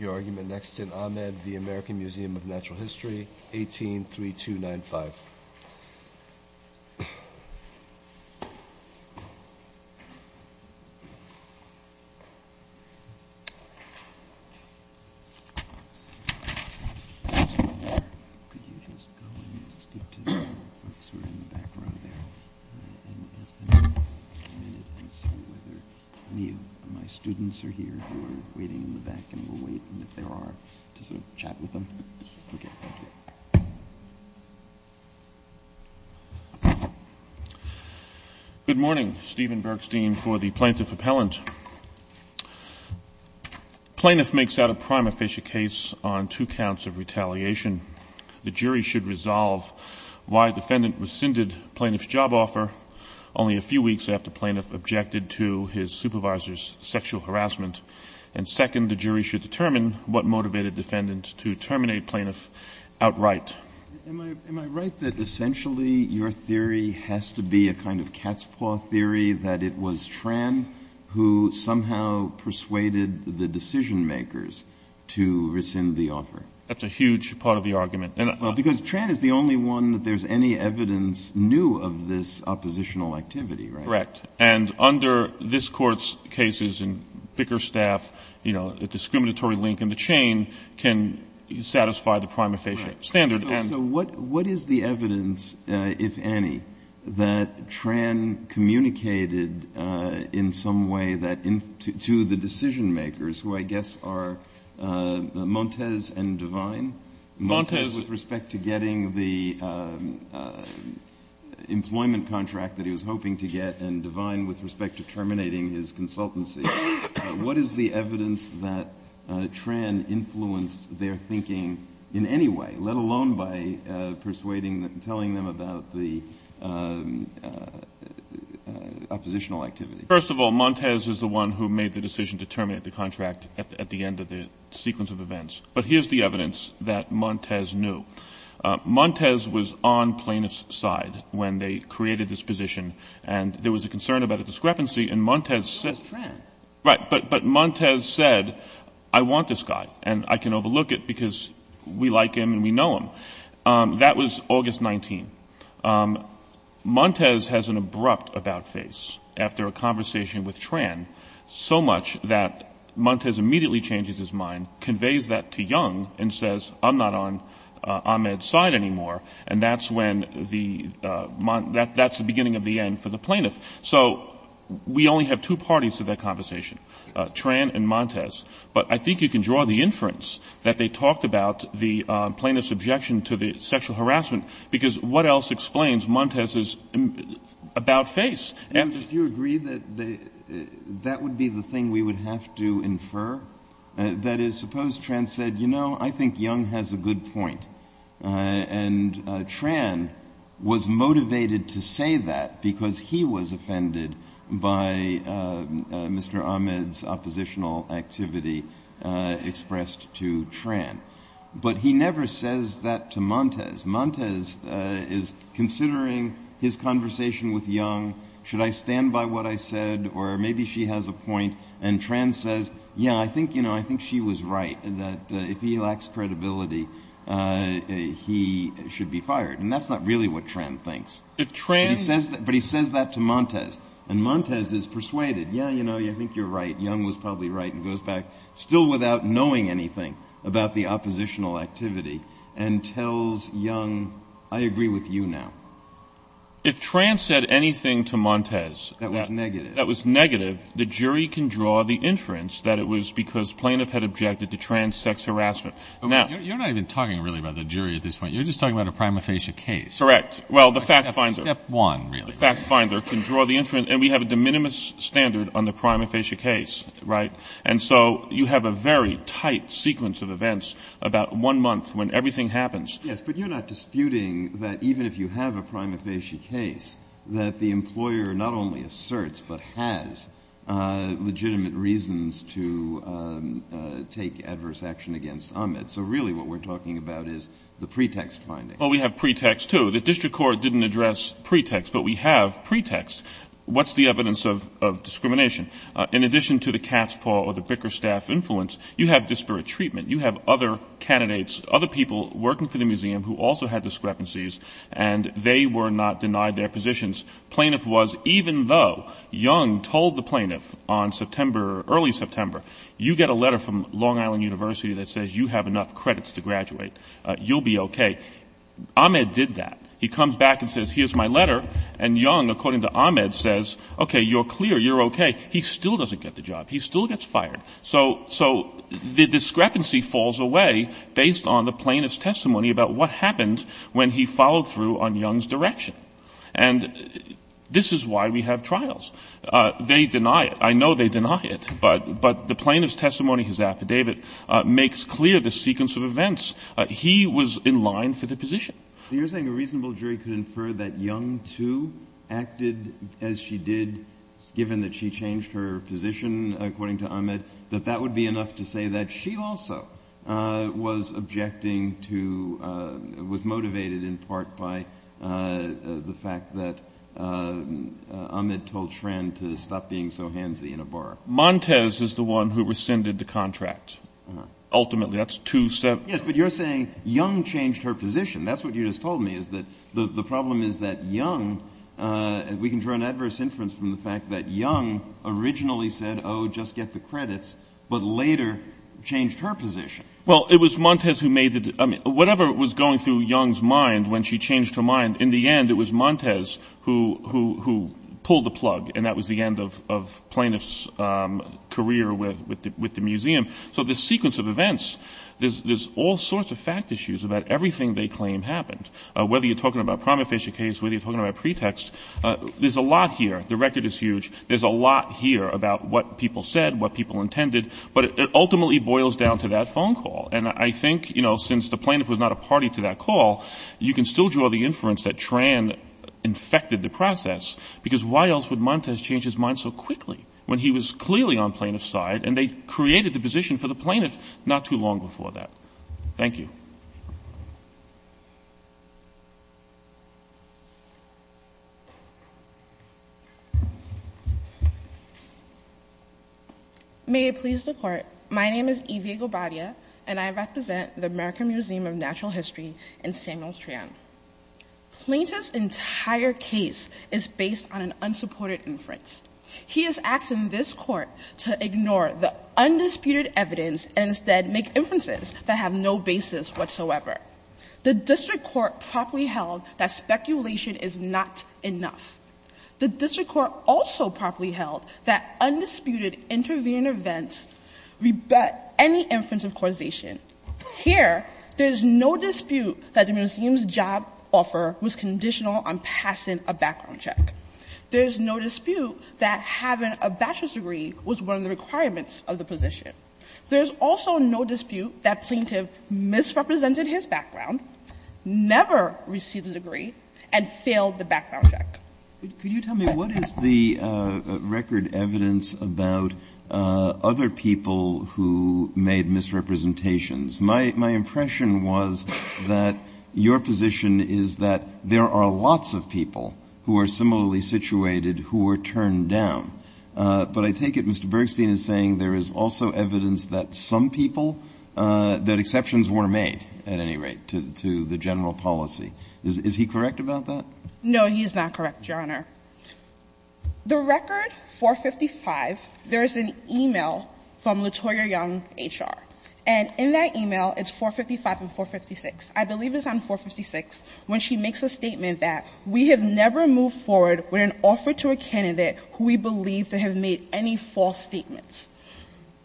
ural History, 183295. Good morning, Stephen Bergstein for the Plaintiff Appellant. Plaintiff makes out a prima facie case on two counts of retaliation. The jury should resolve why defendant rescinded plaintiff's job offer only a few weeks after plaintiff objected to his supervisor's sexual harassment, and second, the jury should determine whether the defendant is guilty or not. The jury should determine what motivated defendant to terminate plaintiff outright. Am I right that essentially your theory has to be a kind of cat's paw theory that it was Tran who somehow persuaded the decision makers to rescind the offer? That's a huge part of the argument. Because Tran is the only one that there's any evidence new of this oppositional activity, right? Correct. And under this Court's cases and thicker staff, you know, a discriminatory link in the chain can satisfy the prima facie standard. So what is the evidence, if any, that Tran communicated in some way that to the decision makers, who I guess are Montez and Devine? Montez. Montez with respect to getting the employment contract that he was hoping to get, and Devine with respect to terminating his consultancy. What is the evidence that Tran influenced their thinking in any way, let alone by persuading, telling them about the oppositional activity? First of all, Montez is the one who made the decision to terminate the contract at the end of the sequence of events. But here's the evidence that Montez knew. Montez was on Plaintiff's side when they created this position, and there was a concern about a discrepancy, and Montez said... It was Tran. Right. But Montez said, I want this guy, and I can overlook it because we like him and we know him. That was August 19. Montez has an abrupt about-face after a conversation with Tran, so much that Montez immediately changes his mind, conveys that to Young, and says, I'm not on Ahmed's side anymore. And that's the beginning of the end for the Plaintiff. So we only have two parties to that conversation, Tran and Montez. But I think you can draw the inference that they talked about the Plaintiff's objection to the sexual harassment, because what else explains Montez's about-face? Do you agree that that would be the thing we would have to infer? That is, suppose Tran said, you know, I think Young has a good point, and Tran was motivated to say that because he was offended by Mr. Ahmed's oppositional activity expressed to Tran. But he never says that to Montez. Montez is considering his conversation with Young. Should I stand by what I said? Or maybe she has a point. And Tran says, yeah, I think she was right, that if he lacks credibility, he should be fired. And that's not really what Tran thinks. But he says that to Montez. And Montez is persuaded, yeah, you know, I think you're right, Young was probably right, and goes back, still without knowing anything about the oppositional activity, and tells Young, I agree with you now. If Tran said anything to Montez that was negative, the jury can draw the inference that it was because Plaintiff had objected to Tran's sex harassment. But you're not even talking really about the jury at this point. You're just talking about a prima facie case. Correct. Well, the fact finder can draw the inference, and we have a de minimis standard on the prima facie case, right? And so you have a very tight sequence of events about one month when everything happens. Yes, but you're not disputing that even if you have a prima facie case, that the employer not only asserts but has legitimate reasons to take adverse action against Ahmed. So really what we're talking about is the pretext finding. Well, we have pretext, too. The district court didn't address pretext, but we have pretext. What's the evidence of discrimination? In addition to the cat's paw or the bricker staff influence, you have disparate treatment. You have other candidates, other people working for the museum who also had discrepancies, and they were not denied their positions. Plaintiff was, even though Young told the plaintiff on September, early September, you get a letter from Long Island University that says you have enough credits to graduate. You'll be okay. Ahmed did that. He comes back and says, here's my letter, and Young, according to Ahmed, says, okay, you're clear, you're okay. He still doesn't get the job. He still gets fired. So the discrepancy falls away based on the plaintiff's testimony about what happened when he followed through on Young's direction. And this is why we have trials. They deny it. I know they deny it, but the plaintiff's testimony, his affidavit, makes clear the sequence of events. He was in line for the position. You're saying a reasonable jury could infer that Young, too, acted as she did given that she changed her position, according to Ahmed, that that would be enough to say that she also was objecting to, was motivated in part by the fact that Ahmed told Schrand to stop being so handsy in a bar. Montez is the one who rescinded the contract. Ultimately, that's two separate. Yes, but you're saying Young changed her position. That's what you just told me, is that the problem is that Young, we can draw an adverse inference from the fact that Young originally said, oh, just get the credits, but later changed her position. Well, it was Montez who made the, I mean, whatever was going through Young's mind when she changed her mind, in the end it was Montez who pulled the plug, and that was the end of plaintiff's career with the museum. So this sequence of events, there's all sorts of fact issues about everything they claim happened, whether you're talking about a prima facie case, whether you're talking about pretext. There's a lot here. The record is huge. There's a lot here about what people said, what people intended. But it ultimately boils down to that phone call. And I think, you know, since the plaintiff was not a party to that call, you can still draw the inference that Schrand infected the process, because why else would Montez change his mind so quickly when he was clearly on plaintiff's side and they created the position for the plaintiff not too long before that? Thank you. May it please the Court, my name is Evie Gobadia, and I represent the American Museum of Natural History in Samuel's Trion. Plaintiff's entire case is based on an unsupported inference. He is asking this Court to ignore the undisputed evidence and instead make inferences that have no basis whatsoever. The district court properly held that speculation is not enough. The district court also properly held that undisputed intervening events rebut any inference of causation. Here, there is no dispute that the museum's job offer was conditional on passing a background check. There is no dispute that having a bachelor's degree was one of the requirements of the position. There is also no dispute that plaintiff misrepresented his background, never received a degree, and failed the background check. Can you tell me what is the record evidence about other people who made misrepresentations? My impression was that your position is that there are lots of people who are similarly situated who were turned down. But I take it Mr. Bergstein is saying there is also evidence that some people, that exceptions were made at any rate to the general policy. Is he correct about that? No, he is not correct, Your Honor. The record 455, there is an e-mail from Latoya Young, H.R. And in that e-mail, it's 455 and 456. I believe it's on 456 when she makes a statement that we have never moved forward with an offer to a candidate who we believe to have made any false statements.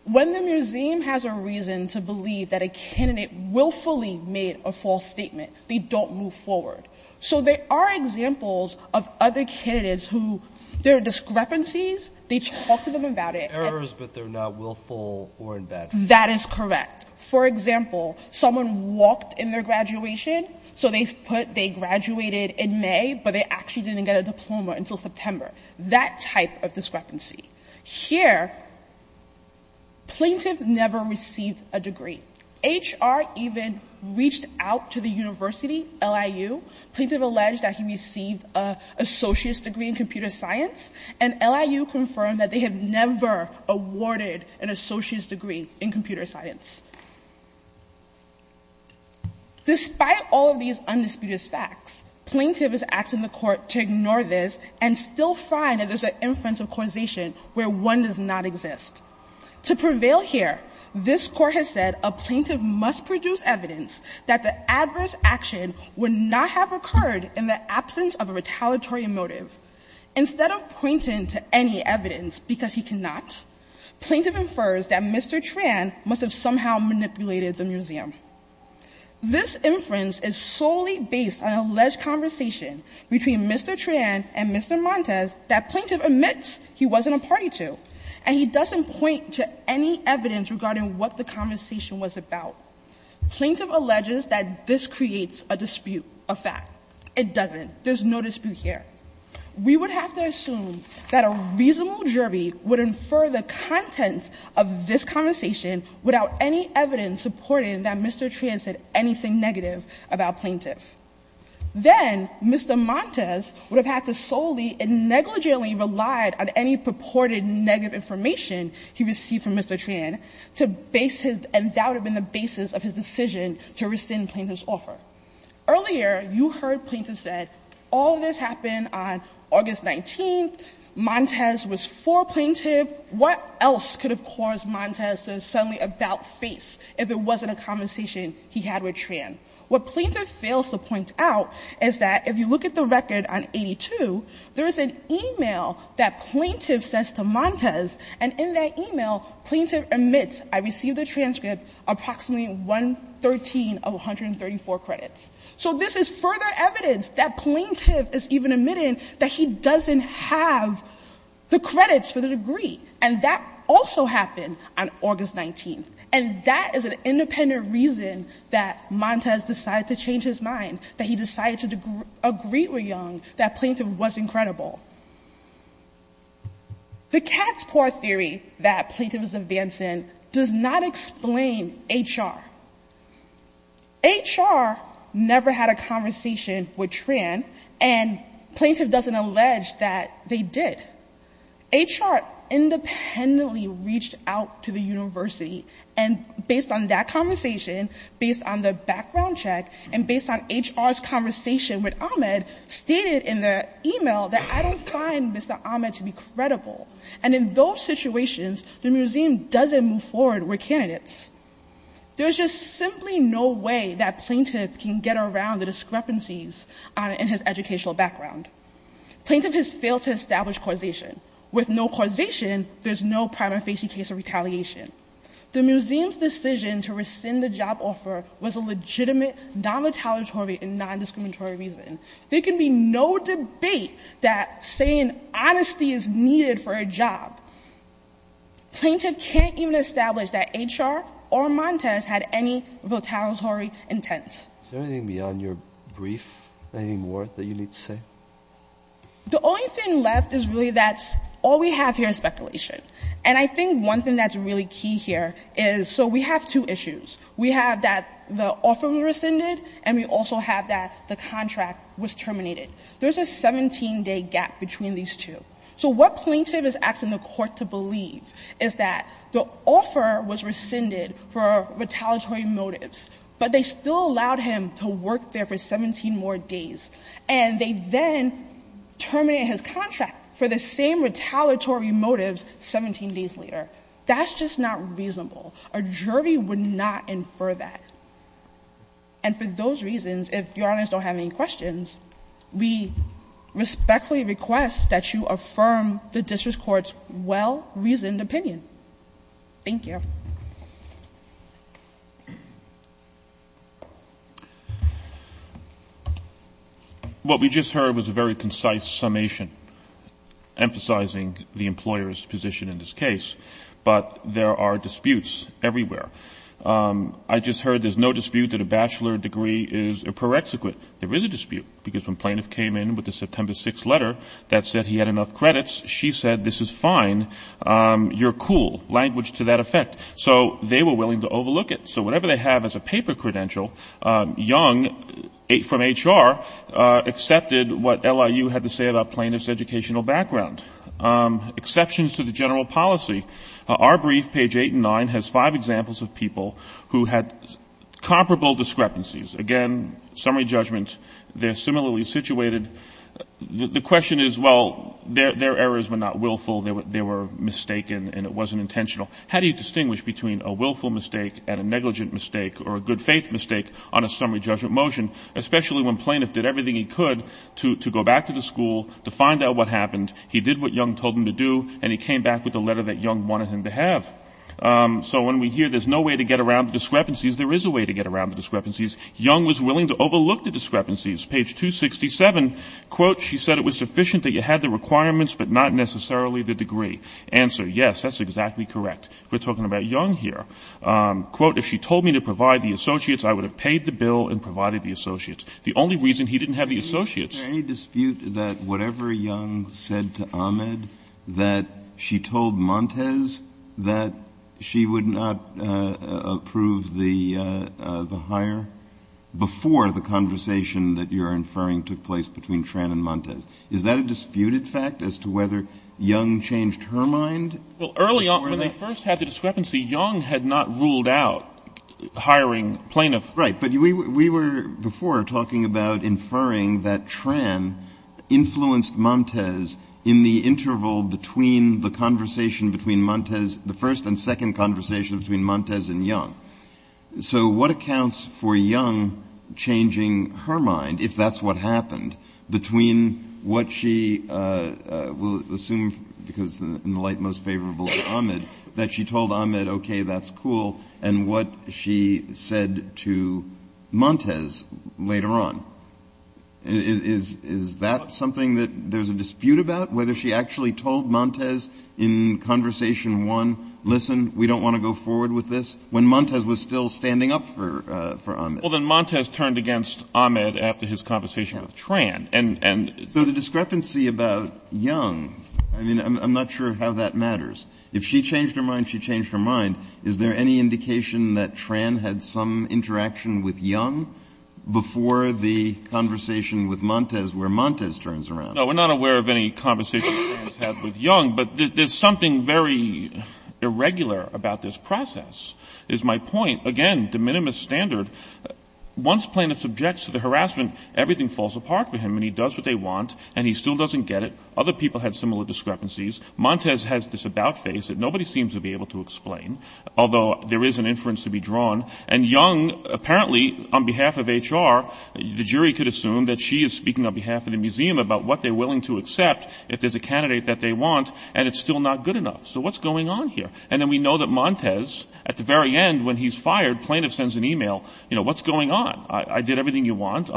When the museum has a reason to believe that a candidate willfully made a false statement, they don't move forward. So there are examples of other candidates who there are discrepancies. They talk to them about it. Errors, but they're not willful or in bad faith. That is correct. For example, someone walked in their graduation, so they put they graduated in May, but they actually didn't get a diploma until September. That type of discrepancy. Here, plaintiff never received a degree. H.R. even reached out to the university, LIU. Plaintiff alleged that he received an associate's degree in computer science. And LIU confirmed that they have never awarded an associate's degree in computer science. Despite all of these undisputed facts, plaintiff is asking the court to ignore this and still find that there's an inference of causation where one does not exist. To prevail here, this court has said a plaintiff must produce evidence that the adverse action would not have occurred in the absence of a retaliatory motive. Instead of pointing to any evidence because he cannot, plaintiff infers that Mr. Tran must have somehow manipulated the museum. This inference is solely based on alleged conversation between Mr. Tran and Mr. Montes that plaintiff admits he wasn't a party to, and he doesn't point to any evidence regarding what the conversation was about. Plaintiff alleges that this creates a dispute, a fact. It doesn't. There's no dispute here. We would have to assume that a reasonable jury would infer the contents of this conversation without any evidence supporting that Mr. Tran said anything negative about plaintiff. Then Mr. Montes would have had to solely and negligently rely on any purported negative information he received from Mr. Tran to base his — and that would have been the basis of his decision to rescind plaintiff's offer. Earlier, you heard plaintiff said all this happened on August 19th, Montes was for plaintiff. What else could have caused Montes to suddenly about-face if it wasn't a conversation he had with Tran? What plaintiff fails to point out is that if you look at the record on 82, there is an e-mail that plaintiff says to Montes, and in that e-mail, plaintiff admits, I received the transcript, approximately 113 of 134 credits. So this is further evidence that plaintiff is even admitting that he doesn't have the credits for the degree. And that also happened on August 19th. And that is an independent reason that Montes decided to change his mind, that he decided to agree with Young that plaintiff was incredible. The cat's paw theory that plaintiff is advancing does not explain H.R. H.R. never had a conversation with Tran, and plaintiff doesn't allege that they did. H.R. independently reached out to the university, and based on that conversation, based on the background check, and based on H.R.'s conversation with Ahmed, stated in the e-mail that I don't find Mr. Ahmed to be credible. And in those situations, the museum doesn't move forward with candidates. There's just simply no way that plaintiff can get around the discrepancies in his educational background. Plaintiff has failed to establish causation. With no causation, there's no prima facie case of retaliation. The museum's decision to rescind the job offer was a legitimate, non-retaliatory, and non-discriminatory reason. There can be no debate that saying honesty is needed for a job. Plaintiff can't even establish that H.R. or Montes had any retaliatory intent. Is there anything beyond your brief, anything more that you need to say? The only thing left is really that all we have here is speculation. And I think one thing that's really key here is so we have two issues. We have that the offer was rescinded, and we also have that the contract was terminated. There's a 17-day gap between these two. So what plaintiff is asking the Court to believe is that the offer was rescinded for retaliatory motives, but they still allowed him to work there for 17 more days, and they then terminated his contract for the same retaliatory motives 17 days later. That's just not reasonable. A jury would not infer that. And for those reasons, if Your Honors don't have any questions, we respectfully request that you affirm the district court's well-reasoned opinion. Thank you. What we just heard was a very concise summation emphasizing the employer's position in this case, but there are disputes everywhere. I just heard there's no dispute that a bachelor degree is a prerequisite. There is a dispute, because when plaintiff came in with the September 6th letter that said he had enough credits, she said this is fine, you're cool, language to that effect. So they were willing to overlook it. So whatever they have as a paper credential, Young from HR accepted what LIU had to say about plaintiff's educational background. Exceptions to the general policy. Our brief, page 8 and 9, has five examples of people who had comparable discrepancies. Again, summary judgment, they're similarly situated. The question is, well, their errors were not willful, they were mistaken, and it wasn't intentional. How do you distinguish between a willful mistake and a negligent mistake or a good-faith mistake on a summary judgment motion, especially when plaintiff did everything he could to go back to the school to find out what happened. He did what Young told him to do, and he came back with the letter that Young wanted him to have. So when we hear there's no way to get around the discrepancies, there is a way to get around the discrepancies. Young was willing to overlook the discrepancies. Page 267, quote, she said it was sufficient that you had the requirements, but not necessarily the degree. Answer, yes, that's exactly correct. We're talking about Young here. Quote, if she told me to provide the associates, I would have paid the bill and provided the associates. The only reason he didn't have the associates. Is there any dispute that whatever Young said to Ahmed, that she told Montes that she would not approve the hire before the conversation that you're inferring took place between Tran and Montes? Is that a disputed fact as to whether Young changed her mind? Well, early on, when they first had the discrepancy, Young had not ruled out hiring plaintiffs. Right, but we were before talking about inferring that Tran influenced Montes in the interval between the conversation between Montes, the first and second conversation between Montes and Young. So what accounts for Young changing her mind, if that's what happened, between what she, we'll assume because in the light most favorable to Ahmed, that she told Ahmed, okay, that's cool, and what she said to Montes later on. Is that something that there's a dispute about, whether she actually told Montes in conversation one, listen, we don't want to go forward with this, when Montes was still standing up for Ahmed? Well, then Montes turned against Ahmed after his conversation with Tran. So the discrepancy about Young, I mean, I'm not sure how that matters. If she changed her mind, she changed her mind. Is there any indication that Tran had some interaction with Young before the conversation with Montes, where Montes turns around? No, we're not aware of any conversation with Young, but there's something very irregular about this process, is my point. Again, de minimis standard, once plaintiff subjects to the harassment, everything falls apart for him, and he does what they want, and he still doesn't get it. Other people had similar discrepancies. Montes has this about face that nobody seems to be able to explain, although there is an inference to be drawn, and Young, apparently, on behalf of HR, the jury could assume that she is speaking on behalf of the museum about what they're willing to accept if there's a candidate that they want, and it's still not good enough. So what's going on here? And then we know that Montes, at the very end, when he's fired, plaintiff sends an e-mail, you know, what's going on? I did everything you want.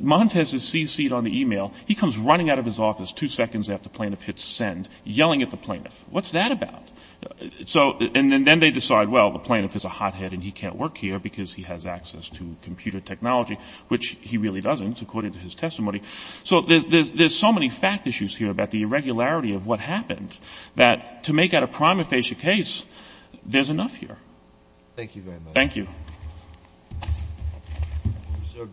Montes is cc'd on the e-mail. He comes running out of his office two seconds after the plaintiff hits send, yelling at the plaintiff. What's that about? So and then they decide, well, the plaintiff is a hothead and he can't work here because he has access to computer technology, which he really doesn't, according to his testimony. So there's so many fact issues here about the irregularity of what happened that to make out a prima facie case, there's enough here. Thank you very much. That's our decision.